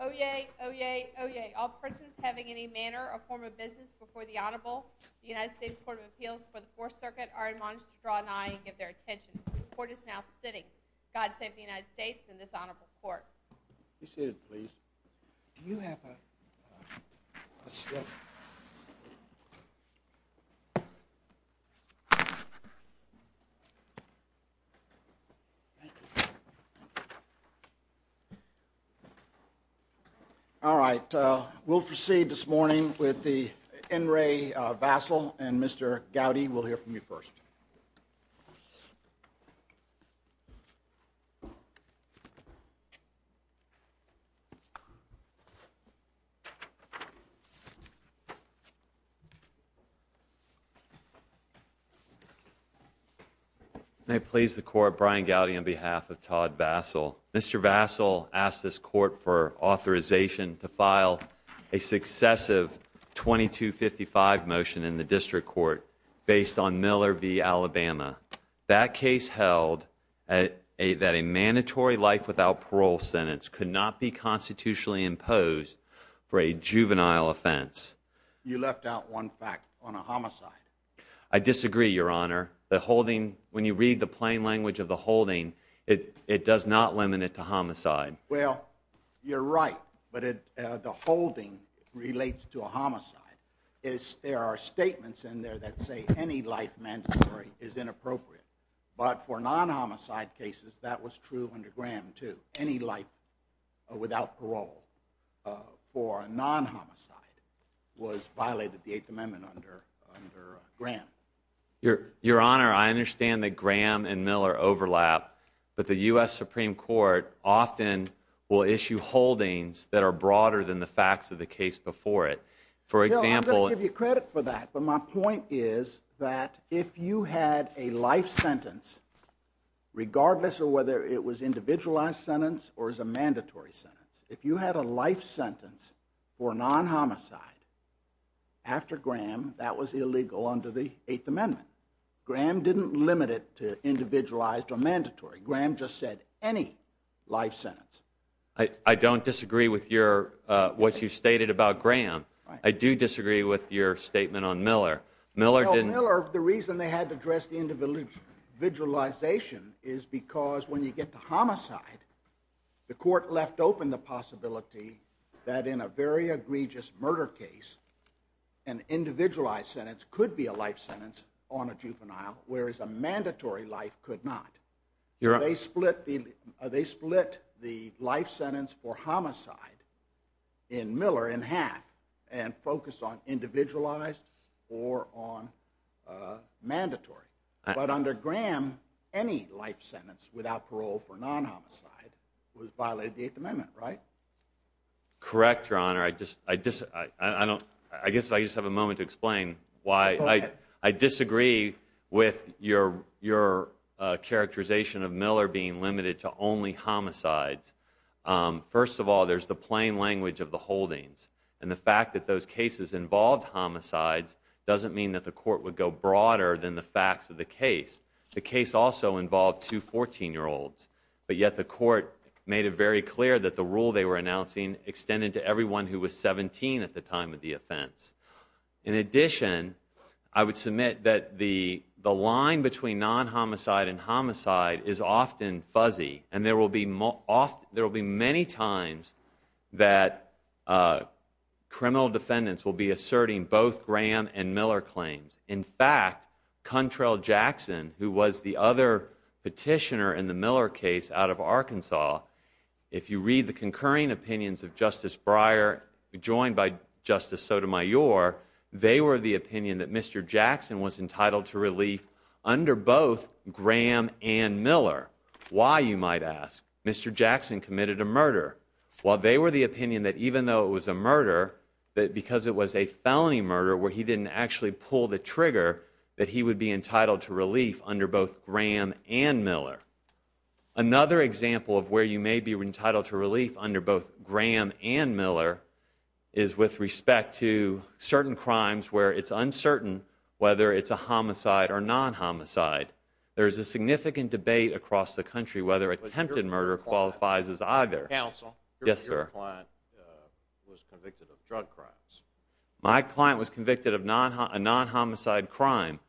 Oyez, oyez, oyez. All persons having any manner or form of business before the Honorable, the United States Court of Appeals for the Fourth Circuit are admonished to draw an eye and give their attention. The Court is now sitting. God save the United States and this Honorable Court. Be seated, please. Do you have a slip? All right. We'll proceed this morning with the N. Ray Vassell and Mr. Gowdy will hear from you first. May it please the Court, Brian Gowdy on behalf of Todd Vassell. Mr. Vassell asked this Court for authorization to file a successive 2255 motion in the District Court based on Miller v. Alabama. That case held that a mandatory life without parole sentence could not be constitutionally imposed for a juvenile offense. You left out one fact on a homicide. I disagree, Your Honor. The holding, when you read the plain language of the holding, it does not limit it to homicide. Well, you're right. But the holding relates to a homicide. There are statements in there that say any life mandatory is inappropriate. But for non-homicide cases, that was true under Graham too. Any life without parole for a non-homicide was violated in the Eighth Amendment under Graham. Your Honor, I understand that Graham and Miller overlap, but the U.S. Supreme Court often will issue holdings that are broader than the facts of the case before it. I'm going to give you credit for that, but my point is that if you had a life sentence, regardless of whether it was an individualized sentence or a mandatory sentence, if you had a life sentence for non-homicide after Graham, that was illegal under the Eighth Amendment. Graham didn't limit it to individualized or mandatory. Graham just said any life sentence. I don't disagree with what you stated about Graham. I do disagree with your statement on Miller. Miller, the reason they had to address the individualization is because when you get to homicide, the court left open the possibility that in a very egregious murder case, an individualized sentence could be a life sentence on a juvenile, whereas a mandatory life could not. They split the life sentence for homicide in Miller in half and focused on individualized or on mandatory. But under Graham, any life sentence without parole for non-homicide was violated in the Eighth Amendment, right? Correct, Your Honor. I guess I just have a moment to explain why I disagree with your characterization of Miller being limited to only homicides. First of all, there's the plain language of the holdings, and the fact that those cases involved homicides doesn't mean that the court would go broader than the facts of the case. The case also involved two 14-year-olds, but yet the court made it very clear that the rule they were announcing extended to everyone who was 17 at the time of the offense. In addition, I would submit that the line between non-homicide and homicide is often fuzzy, and there will be many times that criminal defendants will be asserting both Graham and Miller claims. In fact, Contrell Jackson, who was the other petitioner in the Miller case out of Arkansas, if you read the concurring opinions of Justice Breyer, joined by Justice Sotomayor, they were the opinion that Mr. Jackson was entitled to relief under both Graham and Miller. Why, you might ask? Mr. Jackson committed a murder. Well, they were the opinion that even though it was a murder, that because it was a felony murder where he didn't actually pull the trigger, that he would be entitled to relief under both Graham and Miller. Another example of where you may be entitled to relief under both Graham and Miller is with respect to certain crimes where it's uncertain whether it's a homicide or non-homicide. There is a significant debate across the country whether attempted murder qualifies as either. Counsel. Yes, sir. Your client was convicted of drug crimes. My client was convicted of a non-homicide crime.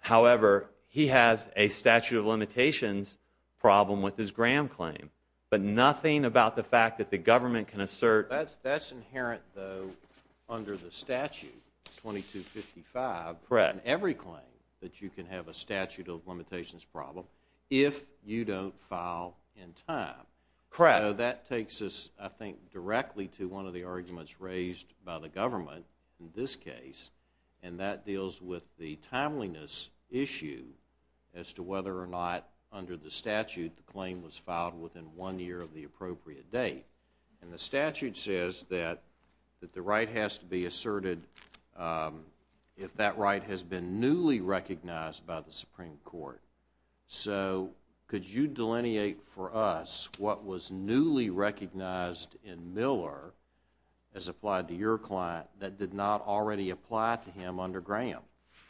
However, he has a statute of limitations problem with his Graham claim, but nothing about the fact that the government can assert That's inherent, though, under the statute, 2255. Correct. Every claim that you can have a statute of limitations problem if you don't file in time. Correct. That takes us, I think, directly to one of the arguments raised by the government in this case, and that deals with the timeliness issue as to whether or not under the statute the claim was filed within one year of the appropriate date. And the statute says that the right has to be asserted if that right has been newly recognized by the Supreme Court. So could you delineate for us what was newly recognized in Miller as applied to your client that did not already apply to him under Graham?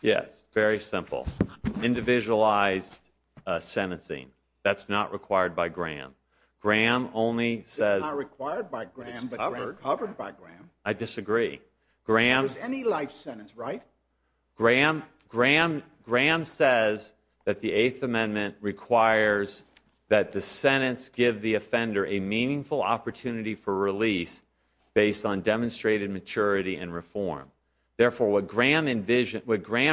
Yes, very simple. Individualized sentencing. That's not required by Graham. It's not required by Graham, but it's covered by Graham. I disagree. It was any life sentence, right? Graham says that the Eighth Amendment requires that the sentence give the offender a meaningful opportunity for release based on demonstrated maturity and reform. Therefore, what Graham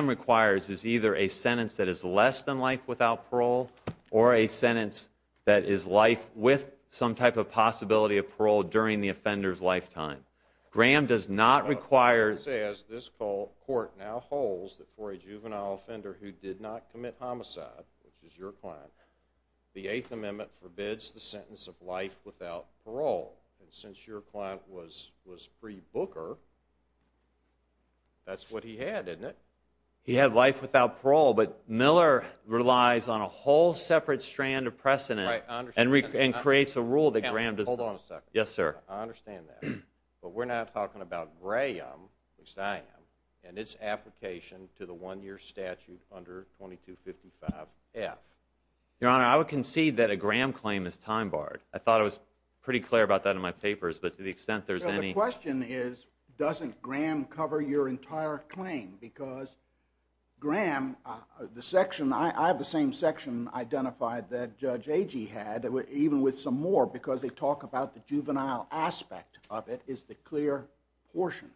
requires is either a sentence that is less than life without parole or a sentence that is life with some type of possibility of parole during the offender's lifetime. Graham does not require... Graham says this court now holds that for a juvenile offender who did not commit homicide, which is your client, the Eighth Amendment forbids the sentence of life without parole. And since your client was pre-Booker, that's what he had, isn't it? He had life without parole. But Miller relies on a whole separate strand of precedent and creates a rule that Graham doesn't... Hold on a second. Yes, sir. I understand that. But we're not talking about Graham, which I am, and its application to the one-year statute under 2255F. Your Honor, I would concede that a Graham claim is time-barred. I thought I was pretty clear about that in my papers, but to the extent there's any... My question is, doesn't Graham cover your entire claim? Because Graham, the section... I have the same section identified that Judge Agee had, even with some more, because they talk about the juvenile aspect of it is the clear portion.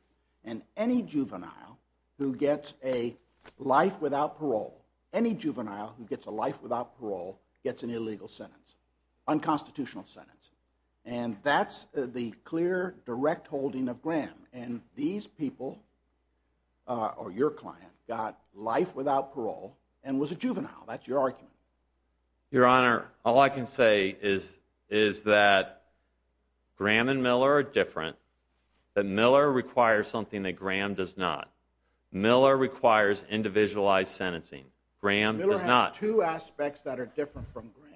And any juvenile who gets a life without parole, any juvenile who gets a life without parole, gets an illegal sentence, unconstitutional sentence. And that's the clear, direct holding of Graham. And these people, or your client, got life without parole and was a juvenile. That's your argument. Your Honor, all I can say is that Graham and Miller are different, that Miller requires something that Graham does not. Miller requires individualized sentencing. Miller has two aspects that are different from Graham.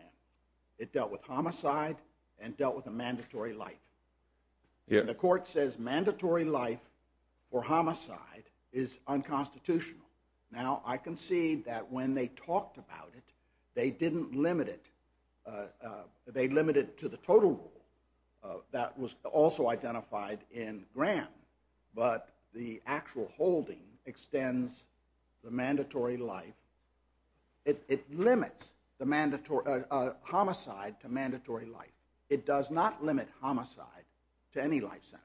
It dealt with homicide and dealt with a mandatory life. And the court says mandatory life for homicide is unconstitutional. Now, I concede that when they talked about it, they didn't limit it. They limited it to the total rule that was also identified in Graham. But the actual holding extends the mandatory life. It limits homicide to mandatory life. It does not limit homicide to any life sentence.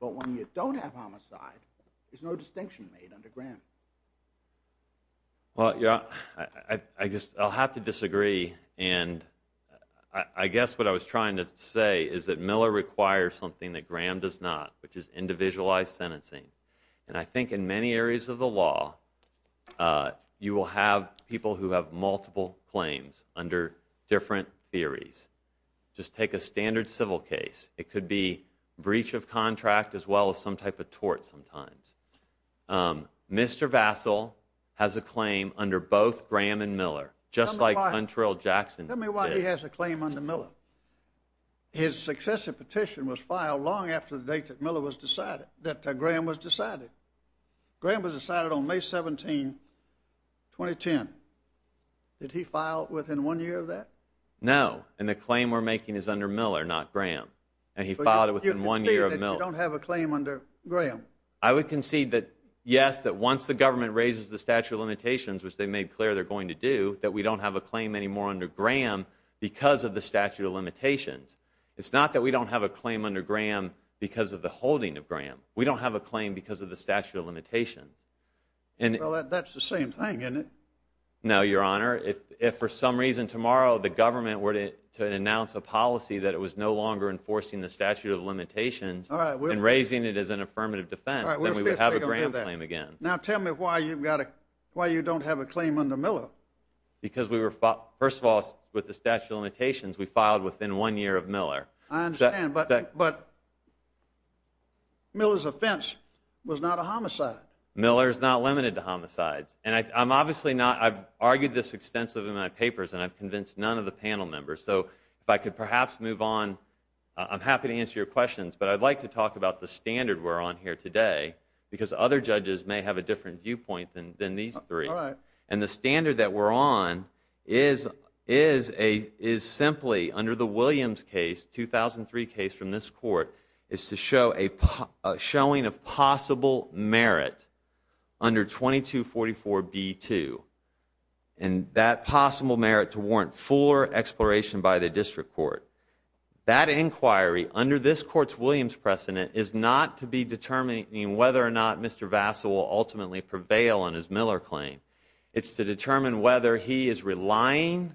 But when you don't have homicide, there's no distinction made under Graham. Well, Your Honor, I'll have to disagree. And I guess what I was trying to say is that Miller requires something that Graham does not, which is individualized sentencing. And I think in many areas of the law, you will have people who have multiple claims under different theories. Just take a standard civil case. It could be breach of contract as well as some type of tort sometimes. Mr. Vassil has a claim under both Graham and Miller, just like Huntrell Jackson did. His successive petition was filed long after the date that Graham was decided. Graham was decided on May 17, 2010. Did he file within one year of that? No, and the claim we're making is under Miller, not Graham. And he filed it within one year of Miller. So you concede that you don't have a claim under Graham? I would concede that, yes, that once the government raises the statute of limitations, which they made clear they're going to do, that we don't have a claim anymore under Graham because of the statute of limitations. It's not that we don't have a claim under Graham because of the holding of Graham. We don't have a claim because of the statute of limitations. Well, that's the same thing, isn't it? No, Your Honor. If for some reason tomorrow the government were to announce a policy that it was no longer enforcing the statute of limitations and raising it as an affirmative defense, then we would have a Graham claim again. Now tell me why you don't have a claim under Miller. Because first of all, with the statute of limitations, we filed within one year of Miller. I understand, but Miller's offense was not a homicide. Miller is not limited to homicides. And I've argued this extensively in my papers, and I've convinced none of the panel members. So if I could perhaps move on, I'm happy to answer your questions, but I'd like to talk about the standard we're on here today because other judges may have a different viewpoint than these three. And the standard that we're on is simply, under the Williams case, 2003 case from this court, is to show a showing of possible merit under 2244B2, and that possible merit to warrant fuller exploration by the district court. That inquiry, under this court's Williams precedent, is not to be determining whether or not Mr. Vassa will ultimately prevail on his Miller claim. It's to determine whether he is relying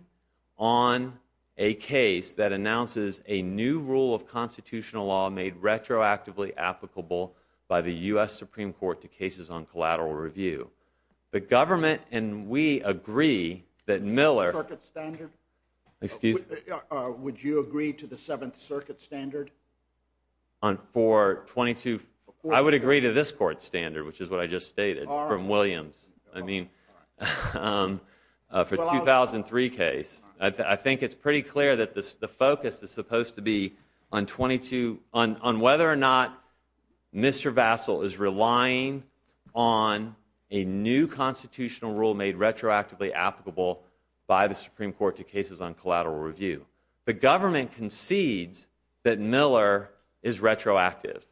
on a case that announces a new rule of constitutional law made retroactively applicable by the U.S. Supreme Court to cases on collateral review. The government and we agree that Miller... Do you agree to the Seventh Circuit standard? For 22... I would agree to this court's standard, which is what I just stated, from Williams. I mean, for 2003 case. I think it's pretty clear that the focus is supposed to be on 22... on whether or not Mr. Vassal is relying on a new constitutional rule made retroactively applicable by the Supreme Court to cases on collateral review. The government concedes that Miller is retroactive.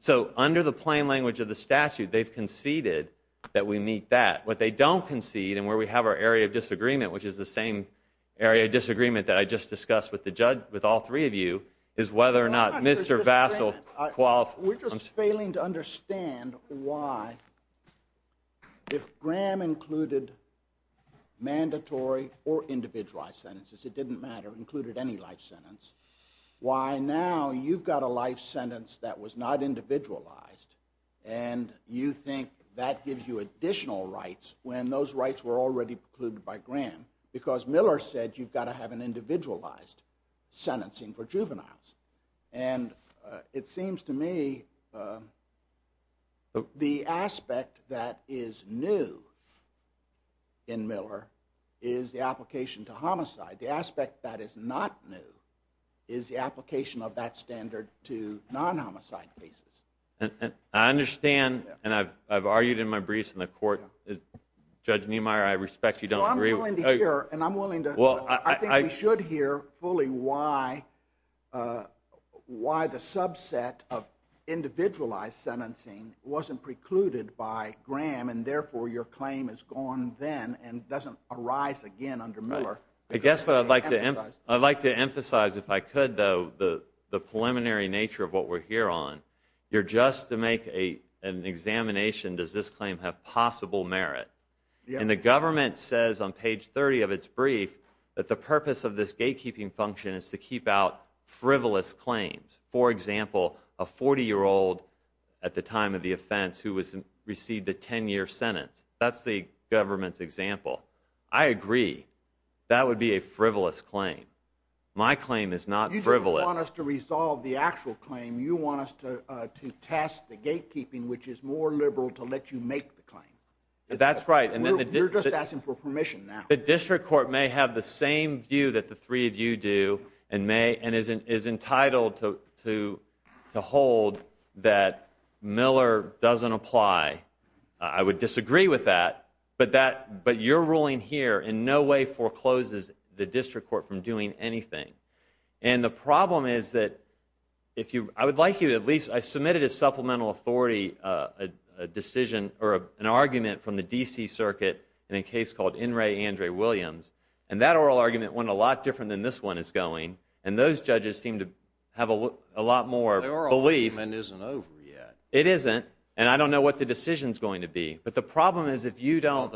So, under the plain language of the statute, they've conceded that we meet that. What they don't concede, and where we have our area of disagreement, which is the same area of disagreement that I just discussed with all three of you, is whether or not Mr. Vassal... We're just failing to understand why, if Graham included mandatory or individualized sentences, it didn't matter, included any life sentence, why now you've got a life sentence that was not individualized, and you think that gives you additional rights when those rights were already precluded by Graham, because Miller said you've got to have an individualized sentencing for juveniles. And it seems to me the aspect that is new in Miller is the application to homicide. The aspect that is not new is the application of that standard to non-homicide cases. I understand, and I've argued in my briefs in the court, Judge Niemeyer, I respect you don't agree... I'm willing to hear, and I think we should hear fully why the subset of individualized sentencing wasn't precluded by Graham, and therefore your claim is gone then and doesn't arise again under Miller. I guess what I'd like to emphasize, if I could though, the preliminary nature of what we're here on, you're just to make an examination, does this claim have possible merit? And the government says on page 30 of its brief that the purpose of this gatekeeping function is to keep out frivolous claims. For example, a 40-year-old at the time of the offense who received a 10-year sentence, that's the government's example. I agree, that would be a frivolous claim. My claim is not frivolous. You don't want us to resolve the actual claim, you want us to test the gatekeeping, which is more liberal, to let you make the claim. That's right. You're just asking for permission now. The district court may have the same view that the three of you do, and is entitled to hold that Miller doesn't apply. I would disagree with that, but your ruling here in no way forecloses the district court from doing anything. And the problem is that I submitted a supplemental authority decision or an argument from the D.C. Circuit in a case called In re André Williams, and that oral argument went a lot different than this one is going, and those judges seem to have a lot more belief. The oral argument isn't over yet. It isn't, and I don't know what the decision's going to be. But the problem is if you don't...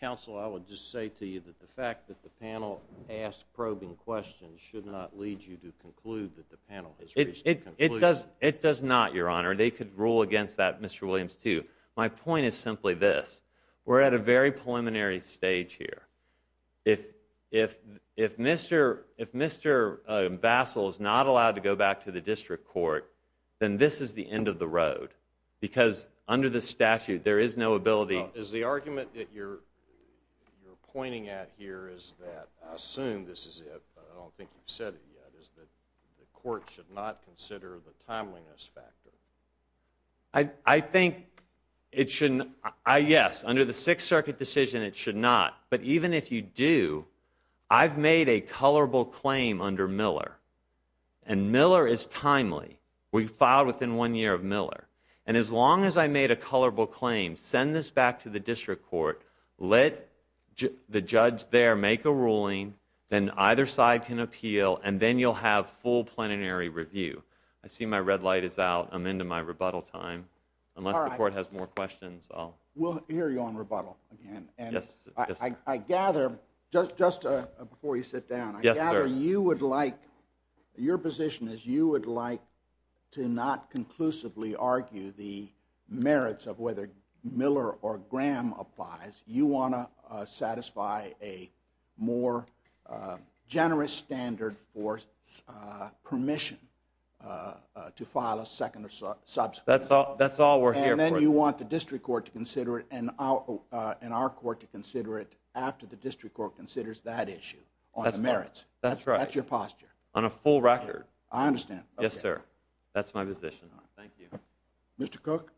Counsel, I would just say to you that the fact that the panel asked probing questions should not lead you to conclude that the panel has reached a conclusion. It does not, Your Honor. They could rule against that, Mr. Williams, too. My point is simply this. We're at a very preliminary stage here. If Mr. Bassel is not allowed to go back to the district court, then this is the end of the road because under the statute there is no ability... Is the argument that you're pointing at here is that I assume this is it, but I don't think you've said it yet, is that the court should not consider the timeliness factor. I think it should... Yes, under the Sixth Circuit decision it should not, but even if you do, I've made a colorable claim under Miller, and Miller is timely. We filed within one year of Miller. And as long as I made a colorable claim, send this back to the district court, let the judge there make a ruling, then either side can appeal, and then you'll have full plenary review. I see my red light is out. I'm into my rebuttal time. Unless the court has more questions, I'll... We'll hear you on rebuttal. And I gather, just before you sit down, I gather you would like... Your position is you would like to not conclusively argue the merits of whether Miller or Graham applies. You want to satisfy a more generous standard for permission to file a second or subsequent... That's all we're here for. And then you want the district court to consider it and our court to consider it after the district court considers that issue on the merits. That's right. That's your posture. On a full record. I understand. Yes, sir. That's my position. Thank you. Mr. Cook?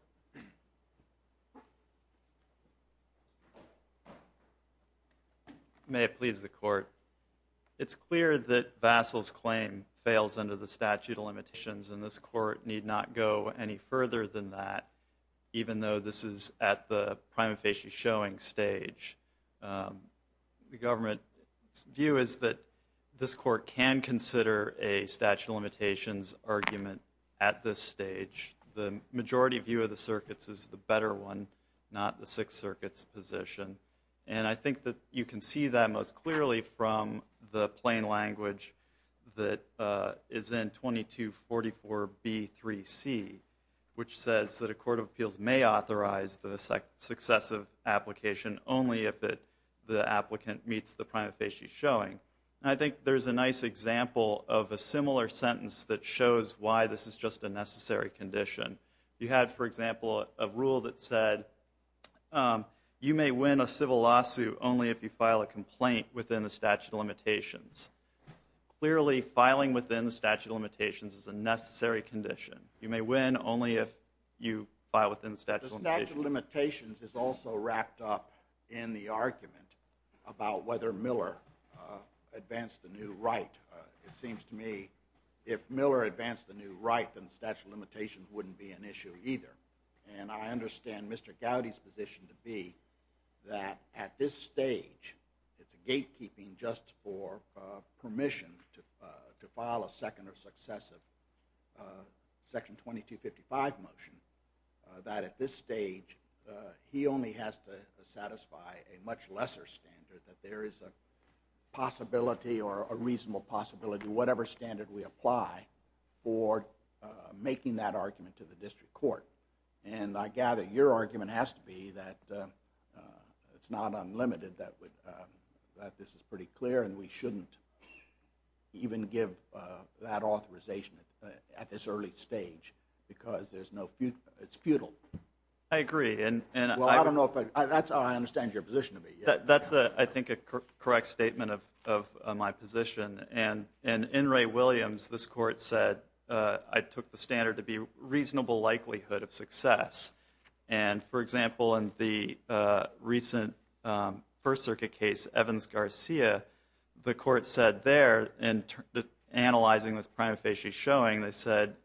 May it please the court. It's clear that Vassil's claim fails under the statute of limitations, and this court need not go any further than that, even though this is at the prima facie showing stage. The government's view is that this court can consider a statute of limitations argument at this stage. The majority view of the circuits is the better one, not the Sixth Circuit's position. And I think that you can see that most clearly from the plain language that is in 2244B3C, which says that a court of appeals may authorize the successive application only if the applicant meets the prima facie showing. And I think there's a nice example of a similar sentence that shows why this is just a necessary condition. You had, for example, a rule that said you may win a civil lawsuit only if you file a complaint within the statute of limitations. Clearly, filing within the statute of limitations is a necessary condition. You may win only if you file within the statute of limitations. The statute of limitations is also wrapped up in the argument about whether Miller advanced the new right. It seems to me if Miller advanced the new right, then the statute of limitations wouldn't be an issue either. And I understand Mr. Gowdy's position to be that at this stage, it's a gatekeeping just for permission to file a second or successive Section 2255 motion, that at this stage, he only has to satisfy a much lesser standard, that there is a possibility or a reasonable possibility, to do whatever standard we apply for making that argument to the district court. And I gather your argument has to be that it's not unlimited, that this is pretty clear and we shouldn't even give that authorization at this early stage because it's futile. I agree. That's how I understand your position to be. That's, I think, a correct statement of my position. And in Ray Williams, this court said, I took the standard to be reasonable likelihood of success. And, for example, in the recent First Circuit case, Evans-Garcia, the court said there in analyzing this prima facie showing, they said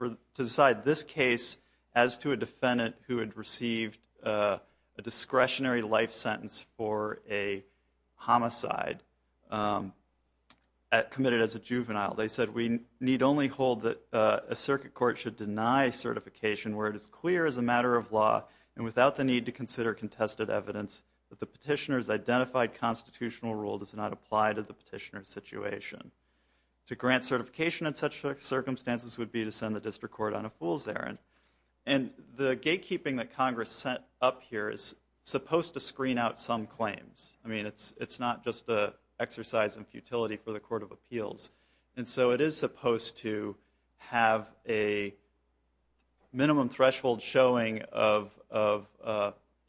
to decide this case as to a defendant who had received a discretionary life sentence for a homicide, committed as a juvenile. They said we need only hold that a circuit court should deny certification where it is clear as a matter of law and without the need to consider contested evidence that the petitioner's identified constitutional rule does not apply to the petitioner's situation. To grant certification in such circumstances would be to send the district court on a fool's errand. And the gatekeeping that Congress sent up here is supposed to screen out some claims. I mean, it's not just an exercise in futility for the Court of Appeals. And so it is supposed to have a minimum threshold showing of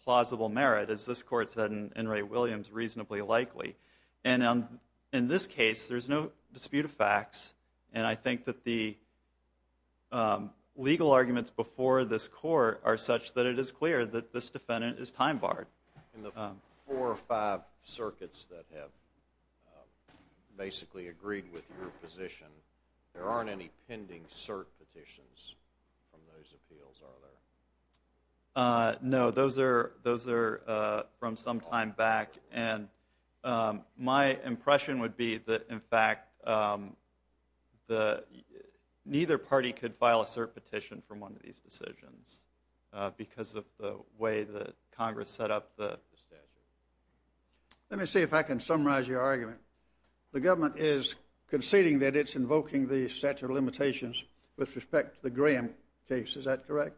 plausible merit, as this court said in Ray Williams, reasonably likely. And in this case, there's no dispute of facts. And I think that the legal arguments before this court are such that it is clear that this defendant is time barred. In the four or five circuits that have basically agreed with your position, there aren't any pending cert petitions from those appeals, are there? No, those are from some time back. And my impression would be that, in fact, neither party could file a cert petition from one of these decisions because of the way that Congress set up the statute. Let me see if I can summarize your argument. The government is conceding that it's invoking the statute of limitations with respect to the Graham case. Is that correct?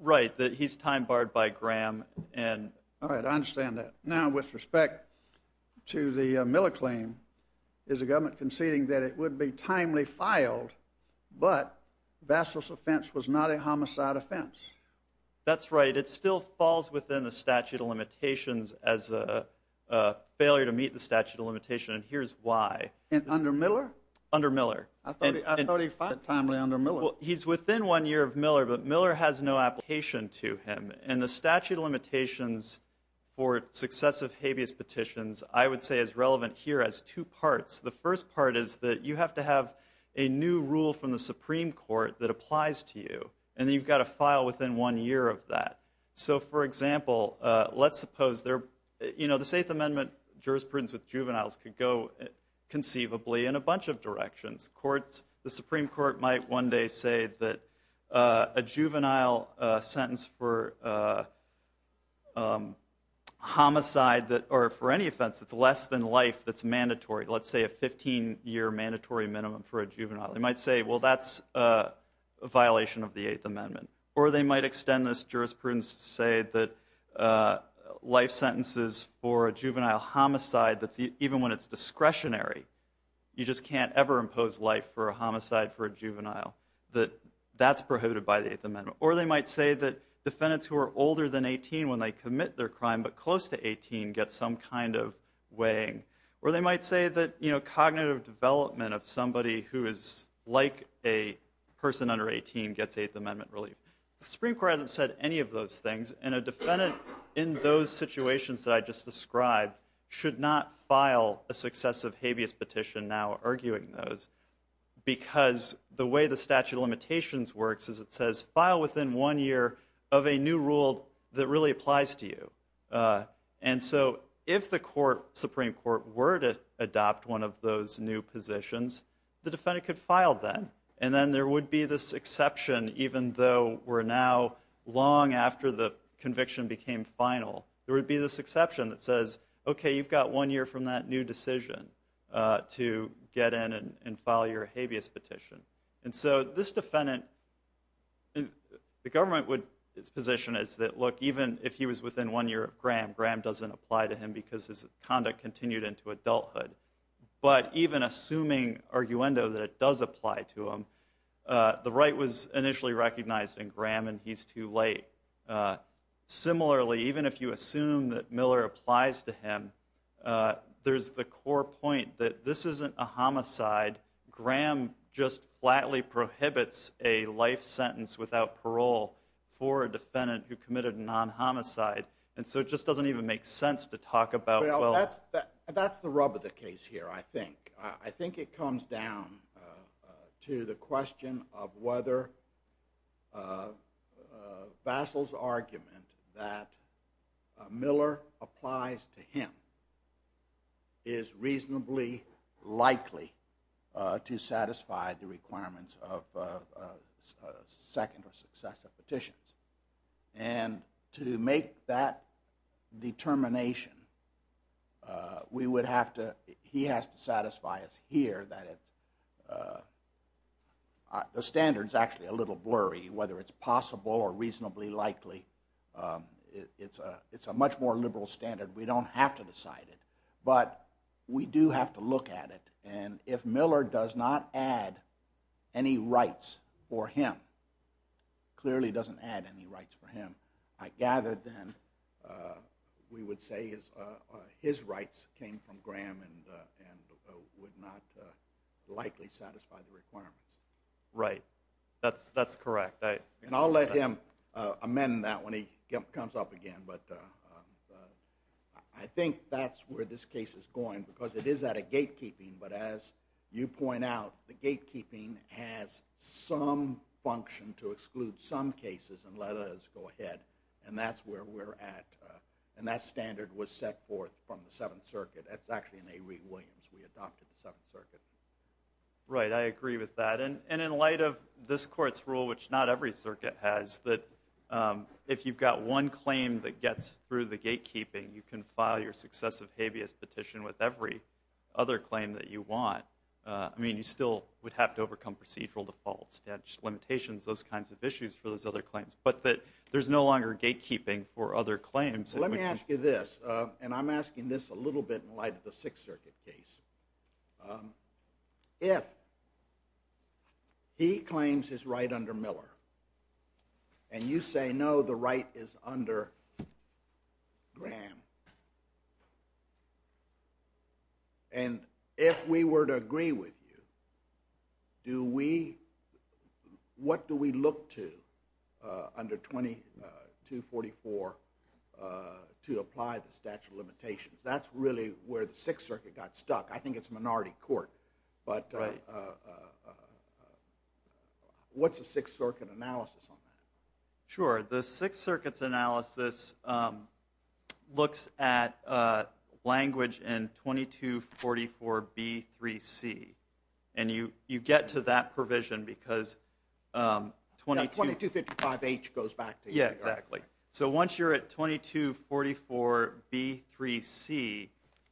Right, that he's time barred by Graham. All right, I understand that. Now, with respect to the Miller claim, is the government conceding that it would be timely filed but Vassal's offense was not a homicide offense? That's right. It still falls within the statute of limitations as a failure to meet the statute of limitation, and here's why. And under Miller? Under Miller. I thought he filed it timely under Miller. Well, he's within one year of Miller, but Miller has no application to him. And the statute of limitations for successive habeas petitions, I would say, is relevant here as two parts. The first part is that you have to have a new rule from the Supreme Court that applies to you, and then you've got to file within one year of that. So, for example, let's suppose there are, you know, the Safe Amendment jurisprudence with juveniles could go conceivably in a bunch of directions. The Supreme Court might one day say that a juvenile sentence for homicide or for any offense that's less than life that's mandatory, let's say a 15-year mandatory minimum for a juvenile, they might say, well, that's a violation of the Eighth Amendment. Or they might extend this jurisprudence to say that life sentences for a juvenile homicide, even when it's discretionary, you just can't ever impose life for a homicide for a juvenile, that that's prohibited by the Eighth Amendment. Or they might say that defendants who are older than 18 when they commit their crime but close to 18 get some kind of weighing. Or they might say that, you know, cognitive development of somebody who is like a person under 18 gets Eighth Amendment relief. The Supreme Court hasn't said any of those things, and a defendant in those situations that I just described should not file a successive habeas petition now arguing those because the way the statute of limitations works is it says, file within one year of a new rule that really applies to you. And so if the Supreme Court were to adopt one of those new positions, the defendant could file then, and then there would be this exception, even though we're now long after the conviction became final, there would be this exception that says, okay, you've got one year from that new decision to get in and file your habeas petition. And so this defendant, the government would position is that, look, even if he was within one year of Graham, Graham doesn't apply to him because his conduct continued into adulthood. But even assuming arguendo that it does apply to him, the right was initially recognized in Graham and he's too late. Similarly, even if you assume that Miller applies to him, there's the core point that this isn't a homicide. Graham just flatly prohibits a life sentence without parole for a defendant who committed a non-homicide. And so it just doesn't even make sense to talk about, well... Well, that's the rub of the case here, I think. I think it comes down to the question of whether Vassil's argument that Miller applies to him is reasonably likely to satisfy the requirements of second or successive petitions. And to make that determination, we would have to... He has to satisfy us here that it's... The standard's actually a little blurry, whether it's possible or reasonably likely. It's a much more liberal standard. We don't have to decide it. But we do have to look at it. And if Miller does not add any rights for him, clearly doesn't add any rights for him, I gather then we would say his rights came from Graham and would not likely satisfy the requirements. Right. That's correct. And I'll let him amend that when he comes up again. But I think that's where this case is going, because it is at a gatekeeping. But as you point out, the gatekeeping has some function to exclude some cases and let others go ahead. And that's where we're at. And that standard was set forth from the Seventh Circuit. That's actually in A. Reid Williams. We adopted the Seventh Circuit. Right. I agree with that. And in light of this Court's rule, which not every circuit has, that if you've got one claim that gets through the gatekeeping, you can file your successive habeas petition with every other claim that you want. I mean, you still would have to overcome procedural defaults and limitations, those kinds of issues for those other claims. But there's no longer gatekeeping for other claims. Let me ask you this. And I'm asking this a little bit in light of the Sixth Circuit case. If he claims his right under Miller, and you say, no, the right is under Graham, and if we were to agree with you, what do we look to under 2244 to apply the statute of limitations? That's really where the Sixth Circuit got stuck. I think it's minority court. But what's the Sixth Circuit analysis on that? Sure. The Sixth Circuit's analysis looks at language in 2244B3C. And you get to that provision because 22... Yeah, 2255H goes back to here. Exactly. So once you're at 2244B3C,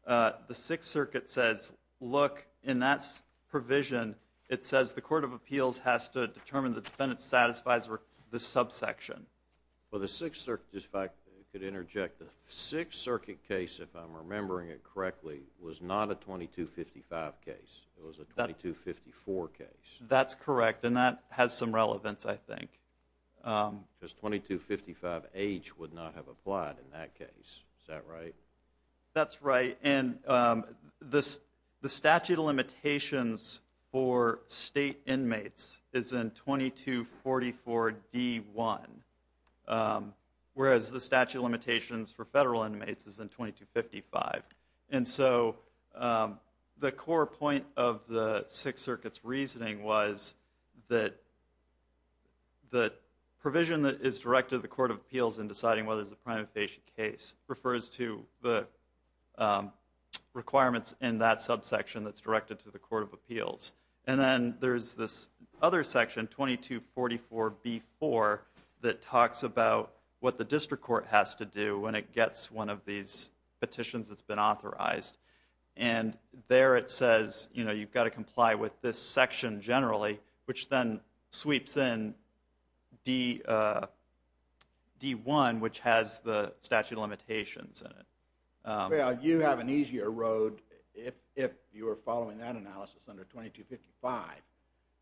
the Sixth Circuit says, look, in that provision, it says the Court of Appeals has to determine the defendant satisfies the subsection. Well, the Sixth Circuit, if I could interject, the Sixth Circuit case, if I'm remembering it correctly, was not a 2255 case. It was a 2254 case. That's correct. And that has some relevance, I think. Because 2255H would not have applied in that case. Is that right? That's right. And the statute of limitations for state inmates is in 2244D1, whereas the statute of limitations for federal inmates is in 2255. And so the core point of the Sixth Circuit's reasoning was that the provision that is directed to the Court of Appeals in deciding whether it's a prima facie case refers to the requirements in that subsection that's directed to the Court of Appeals. And then there's this other section, 2244B4, that talks about what the district court has to do when it gets one of these petitions that's been authorized. And there it says you've got to comply with this section generally, which then sweeps in D1, which has the statute of limitations in it. Well, you have an easier road if you're following that analysis under 2255.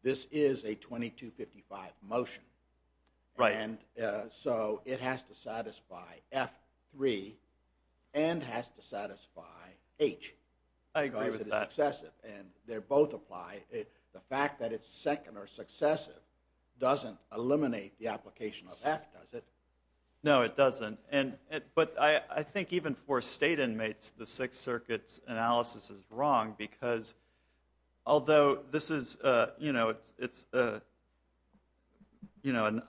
This is a 2255 motion. Right. And so it has to satisfy F3 and has to satisfy H. I agree with that. Because it's successive, and they both apply. The fact that it's second or successive doesn't eliminate the application of F, does it? No, it doesn't. But I think even for state inmates, the Sixth Circuit's analysis is wrong because although this is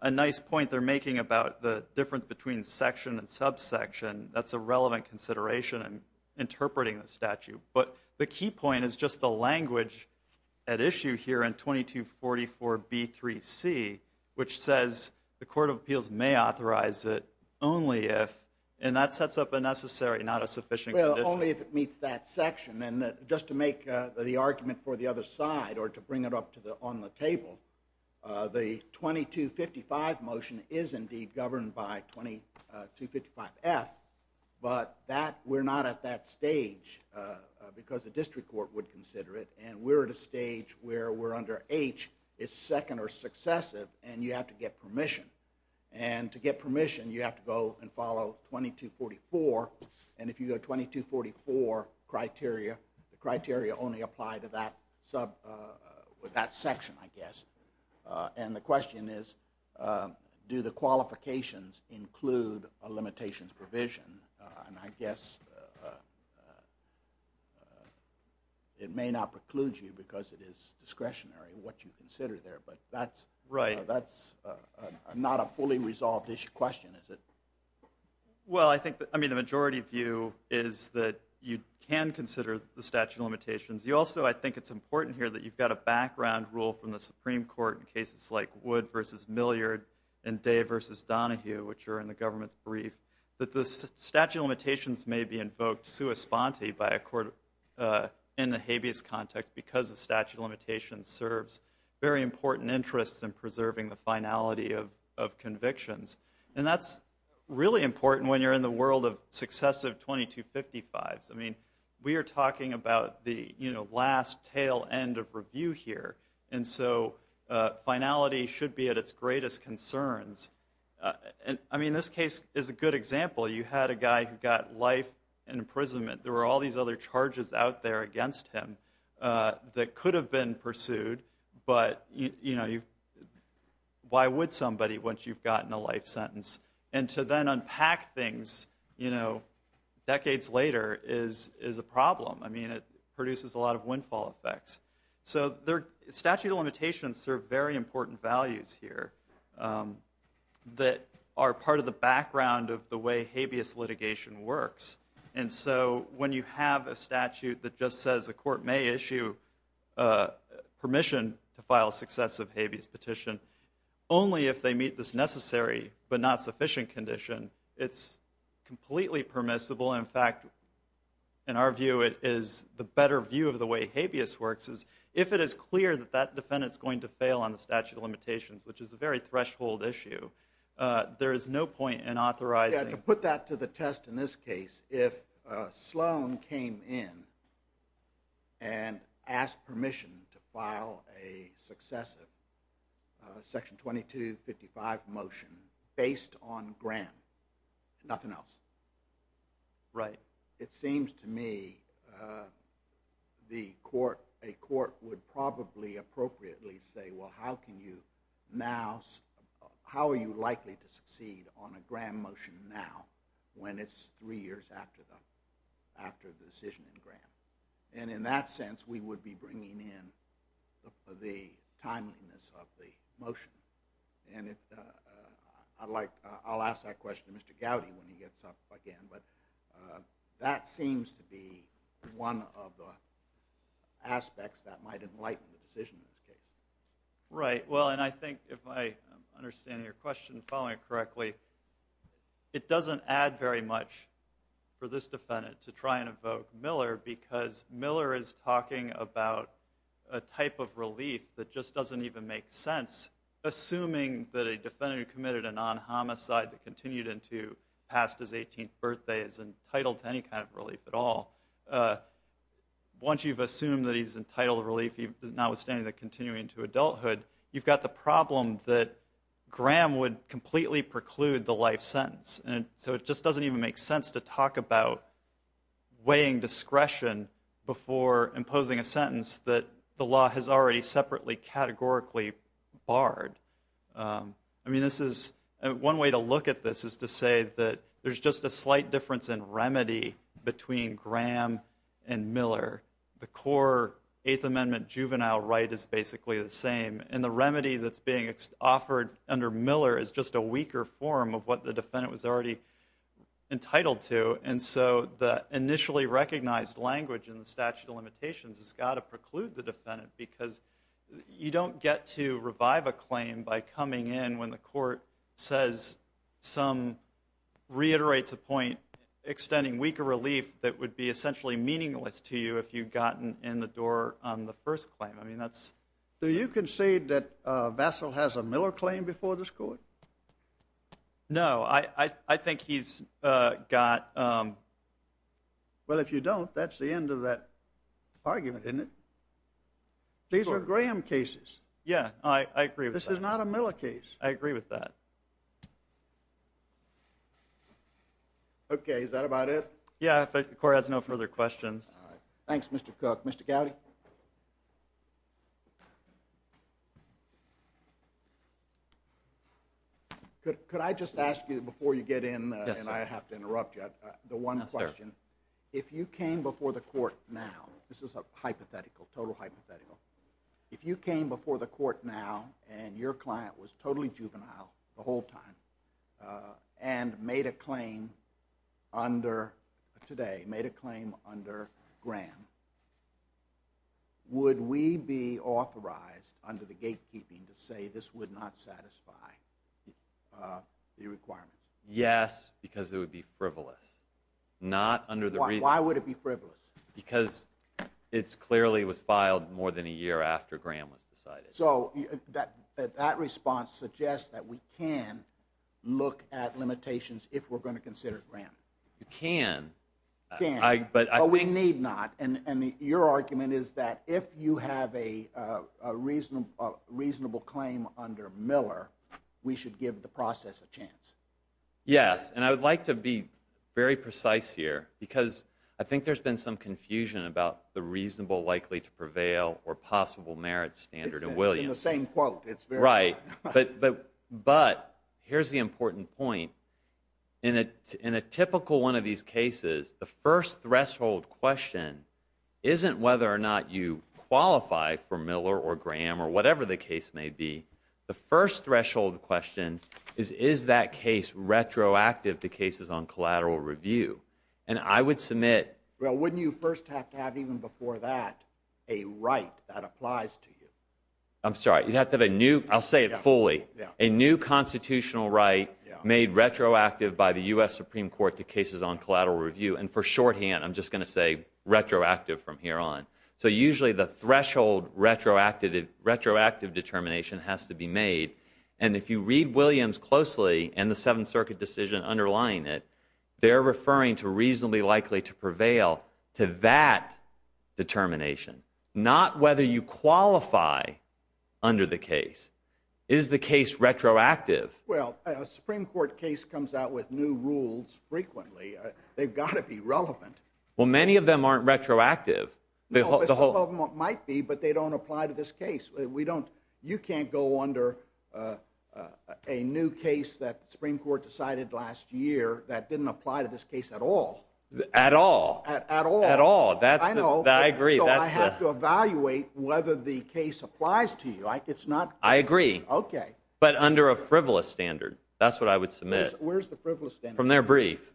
a nice point they're making about the difference between section and subsection, that's a relevant consideration in interpreting the statute. But the key point is just the language at issue here in 2244B3C, which says the Court of Appeals may authorize it only if, and that sets up a necessary, not a sufficient condition. Only if it meets that section. And then just to make the argument for the other side or to bring it up on the table, the 2255 motion is indeed governed by 2255F, but we're not at that stage because the district court would consider it, and we're at a stage where we're under H, it's second or successive, and you have to get permission. And to get permission you have to go and follow 2244, and if you go 2244, the criteria only apply to that section, I guess. And the question is, do the qualifications include a limitations provision? And I guess it may not preclude you because it is discretionary what you consider there, but that's not a fully resolved issue question, is it? Well, I think the majority view is that you can consider the statute of limitations. Also, I think it's important here that you've got a background rule from the Supreme Court in cases like Wood v. Milliard and Day v. Donohue, which are in the government's brief, that the statute of limitations may be invoked sua sponte by a court in the habeas context because the statute of limitations serves very important interests in preserving the finality of convictions. And that's really important when you're in the world of successive 2255s. I mean, we are talking about the last tail end of review here, and so finality should be at its greatest concerns. I mean, this case is a good example. You had a guy who got life imprisonment. There were all these other charges out there against him that could have been pursued, but why would somebody once you've gotten a life sentence? And to then unpack things decades later is a problem. I mean, it produces a lot of windfall effects. So statute of limitations serve very important values here that are part of the background of the way habeas litigation works. And so when you have a statute that just says a court may issue permission to file successive habeas petition, only if they meet this necessary but not sufficient condition, it's completely permissible. In fact, in our view, it is the better view of the way habeas works is if it is clear that that defendant is going to fail on the statute of limitations, which is a very threshold issue, there is no point in authorizing. Yeah, to put that to the test in this case, if Sloan came in and asked permission to file a successive section 2255 motion based on Graham, nothing else. Right. It seems to me a court would probably appropriately say, well, how are you likely to succeed on a Graham motion now when it's three years after the decision in Graham? And in that sense, we would be bringing in the timeliness of the motion. And I'll ask that question to Mr. Gowdy when he gets up again, but that seems to be one of the aspects that might enlighten the decision in this case. Right. Well, and I think if I understand your question, following it correctly, it doesn't add very much for this defendant to try and evoke Miller because Miller is talking about a type of relief that just doesn't even make sense, assuming that a defendant who committed a non-homicide that continued into past his 18th birthday is entitled to any kind of relief at all. Once you've assumed that he's entitled to relief, notwithstanding the continuing to adulthood, you've got the problem that Graham would completely preclude the life sentence. And so it just doesn't even make sense to talk about weighing discretion before imposing a sentence that the law has already separately categorically barred. I mean, one way to look at this is to say that there's just a slight difference in remedy between Graham and Miller. The core Eighth Amendment juvenile right is basically the same, and the remedy that's being offered under Miller is just a weaker form of what the defendant was already entitled to. has got to preclude the defendant because you don't get to revive a claim by coming in when the court says some, reiterates a point, extending weaker relief that would be essentially meaningless to you if you'd gotten in the door on the first claim. Do you concede that Vassil has a Miller claim before this court? No, I think he's got... Well, if you don't, that's the end of that argument, isn't it? These are Graham cases. Yeah, I agree with that. This is not a Miller case. I agree with that. Okay, is that about it? Yeah, if the court has no further questions. All right, thanks, Mr. Cook. Mr. Gowdy? Could I just ask you before you get in, and I have to interrupt you, but the one question. Yes, sir. If you came before the court now, this is a hypothetical, total hypothetical, if you came before the court now and your client was totally juvenile the whole time and made a claim under today, made a claim under Graham, would we be authorized under the gatekeeping to say this would not satisfy the requirement? Yes, because it would be frivolous. Why would it be frivolous? Because it clearly was filed more than a year after Graham was decided. So that response suggests that we can look at limitations if we're going to consider Graham. You can. You can, but we need not, and your argument is that if you have a reasonable claim under Miller, we should give the process a chance. Yes, and I would like to be very precise here, because I think there's been some confusion about the reasonable, likely to prevail, or possible merit standard of Williams. In the same quote. Right, but here's the important point. In a typical one of these cases, the first threshold question isn't whether or not you qualify for Miller or Graham or whatever the case may be. The first threshold question is, is that case retroactive to cases on collateral review? And I would submit... Well, wouldn't you first have to have, even before that, a right that applies to you? I'm sorry, you'd have to have a new, I'll say it fully, a new constitutional right made retroactive by the U.S. Supreme Court to cases on collateral review, and for shorthand, I'm just going to say retroactive from here on. So usually the threshold retroactive determination has to be made, and if you read Williams closely, and the Seventh Circuit decision underlying it, they're referring to reasonably likely to prevail to that determination, not whether you qualify under the case. Is the case retroactive? Well, a Supreme Court case comes out with new rules frequently. They've got to be relevant. Well, many of them aren't retroactive. No, some of them might be, but they don't apply to this case. We don't, you can't go under a new case that the Supreme Court decided last year that didn't apply to this case at all. At all? At all. At all. I know. I agree. So I have to evaluate whether the case applies to you. It's not... I agree. Okay. But under a frivolous standard. That's what I would submit. Where's the frivolous standard? From their brief.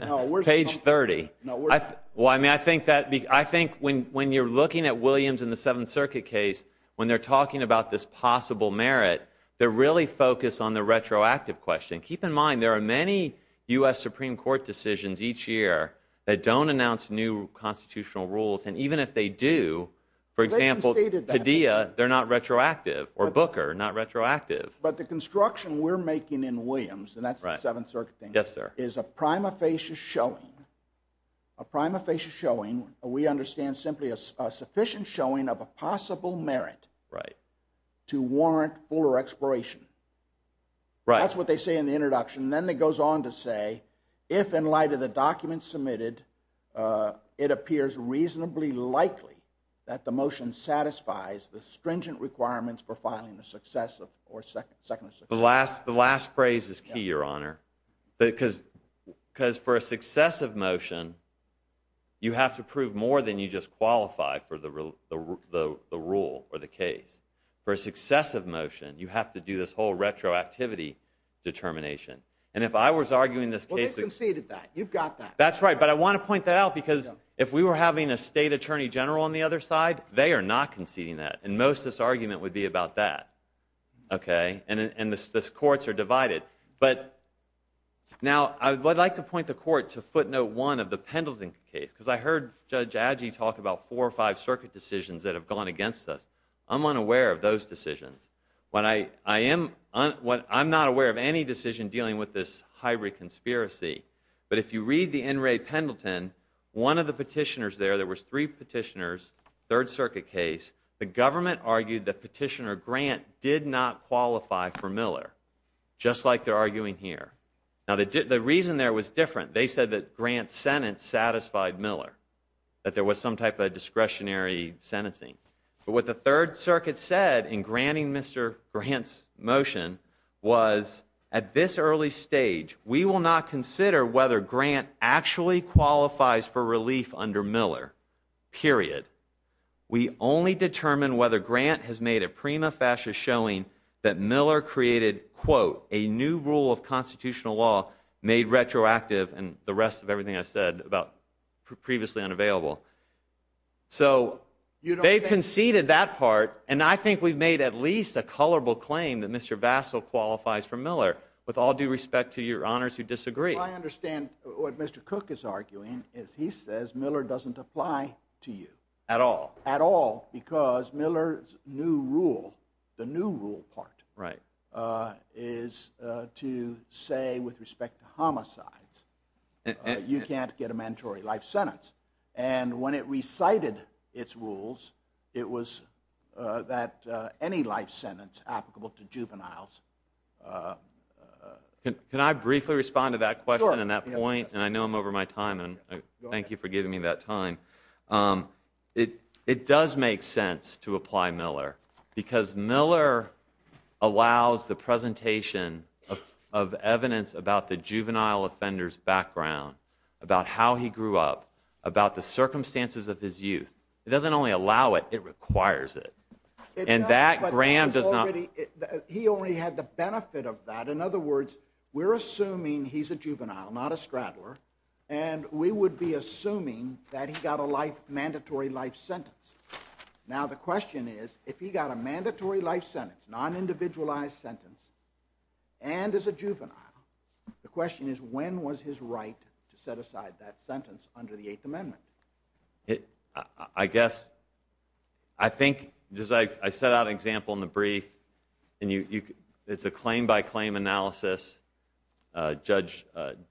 No, where's... Page 30. No, where's... Well, I mean, I think that... I think when you're looking at Williams in the Seventh Circuit case, when they're talking about this possible merit, they're really focused on the retroactive question. Keep in mind, there are many U.S. Supreme Court decisions each year that don't announce new constitutional rules, and even if they do, for example, Padilla, they're not retroactive, or Booker, not retroactive. But the construction we're making in Williams, and that's the Seventh Circuit case, is a prima facie showing, a prima facie showing, we understand, simply a sufficient showing of a possible merit to warrant fuller expiration. That's what they say in the introduction, and then it goes on to say, if in light of the documents submitted, it appears reasonably likely that the motion satisfies the stringent requirements for filing a successive or second... The last phrase is key, Your Honor, because for a successive motion, you have to prove more than you just qualify for the rule or the case. For a successive motion, you have to do this whole retroactivity determination. And if I was arguing this case... Well, they've conceded that. You've got that. That's right, but I want to point that out, because if we were having a state attorney general on the other side, they are not conceding that, and most of this argument would be about that, okay? And the courts are divided. But now, I'd like to point the court to footnote one of the Pendleton case, because I heard Judge Adjaye talk about four or five circuit decisions that have gone against us. I'm unaware of those decisions. I'm not aware of any decision dealing with this hybrid conspiracy, but if you read the NRA Pendleton, one of the petitioners there, there was three petitioners, third circuit case. The government argued that Petitioner Grant did not qualify for Miller, just like they're arguing here. Now, the reason there was different. They said that Grant's sentence satisfied Miller, that there was some type of discretionary sentencing. But what the third circuit said in granting Mr. Grant's motion was, at this early stage, we will not consider whether Grant actually qualifies for relief under Miller, period. We only determine whether Grant has made a prima facie showing that Miller created, quote, a new rule of constitutional law made retroactive, and the rest of everything I said about previously unavailable. So they've conceded that part, and I think we've made at least a colorable claim that Mr. Vassil qualifies for Miller, with all due respect to your honors who disagree. I understand what Mr. Cook is arguing is he says Miller doesn't apply to you. At all. At all, because Miller's new rule, the new rule part, is to say with respect to homicides, you can't get a mandatory life sentence. And when it recited its rules, it was that any life sentence applicable to juveniles... Can I briefly respond to that question and that point? Sure. And I know I'm over my time, and thank you for giving me that time. It does make sense to apply Miller, because Miller allows the presentation of evidence about the juvenile offender's background, about how he grew up, about the circumstances of his youth. It doesn't only allow it, it requires it. And that, Graham does not... He only had the benefit of that. In other words, we're assuming he's a juvenile, not a straddler, and we would be assuming that he got a life, mandatory life sentence. Now, the question is, if he got a mandatory life sentence, non-individualized sentence, and is a juvenile, the question is, when was his right to set aside that sentence under the Eighth Amendment? I guess... I think... I set out an example in the brief, and it's a claim-by-claim analysis. Judge...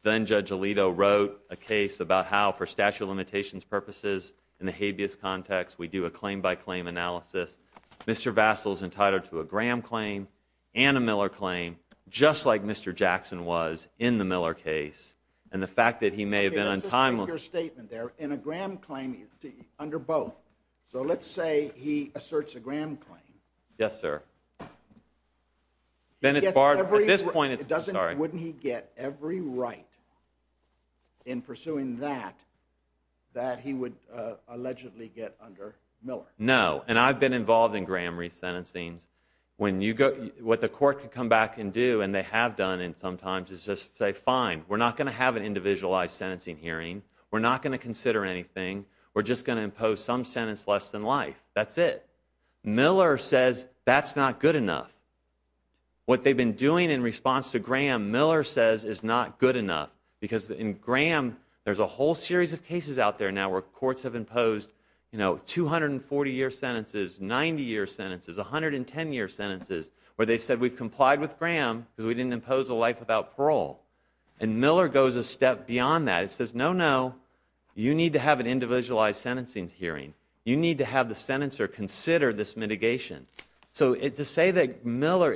Then-Judge Alito wrote a case about how for statute of limitations purposes in the habeas context, we do a claim-by-claim analysis. Mr. Vassil's entitled to a Graham claim and a Miller claim, just like Mr. Jackson was in the Miller case. And the fact that he may have been untimely... Let me just make your statement there. In a Graham claim, under both. So let's say he asserts a Graham claim. Yes, sir. Then it's barred... At this point, it's... Sorry. Wouldn't he get every right in pursuing that, that he would allegedly get under Miller? No, and I've been involved in Graham resentencing. When you go... What the court can come back and do, and they have done it sometimes, is just say, fine, we're not going to have an individualized sentencing hearing. We're not going to consider anything. We're just going to impose some sentence less than life. That's it. Miller says that's not good enough. What they've been doing in response to Graham, Miller says is not good enough, because in Graham, there's a whole series of cases out there now where courts have imposed, you know, 240-year sentences, 90-year sentences, 110-year sentences, where they've said, we've complied with Graham because we didn't impose a life without parole. And Miller goes a step beyond that. He says, no, no. You need to have an individualized sentencing hearing. You need to have the sentencer consider this mitigation. So to say that Miller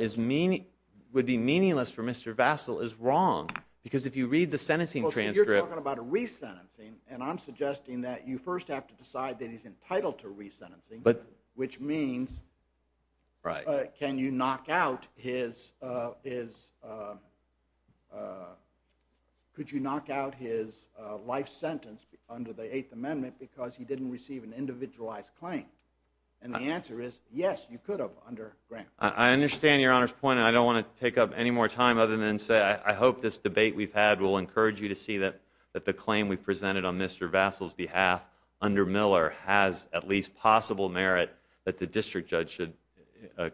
would be meaningless for Mr. Vassil is wrong, because if you read the sentencing transcript... And I'm suggesting that you first have to decide that he's entitled to resentencing, which means can you knock out his... Could you knock out his life sentence under the Eighth Amendment because he didn't receive an individualized claim? And the answer is yes, you could have under Graham. I understand Your Honor's point, and I don't want to take up any more time other than to say I hope this debate we've had will encourage you to see that the claim we've presented on Mr. Vassil's behalf under Miller has at least possible merit that the district judge should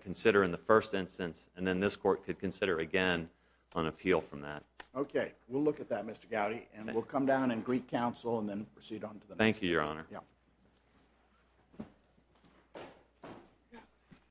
consider in the first instance, and then this court could consider again on appeal from that. Okay, we'll look at that, Mr. Gowdy, and we'll come down and greet counsel, and then proceed on to the next. Thank you, Your Honor.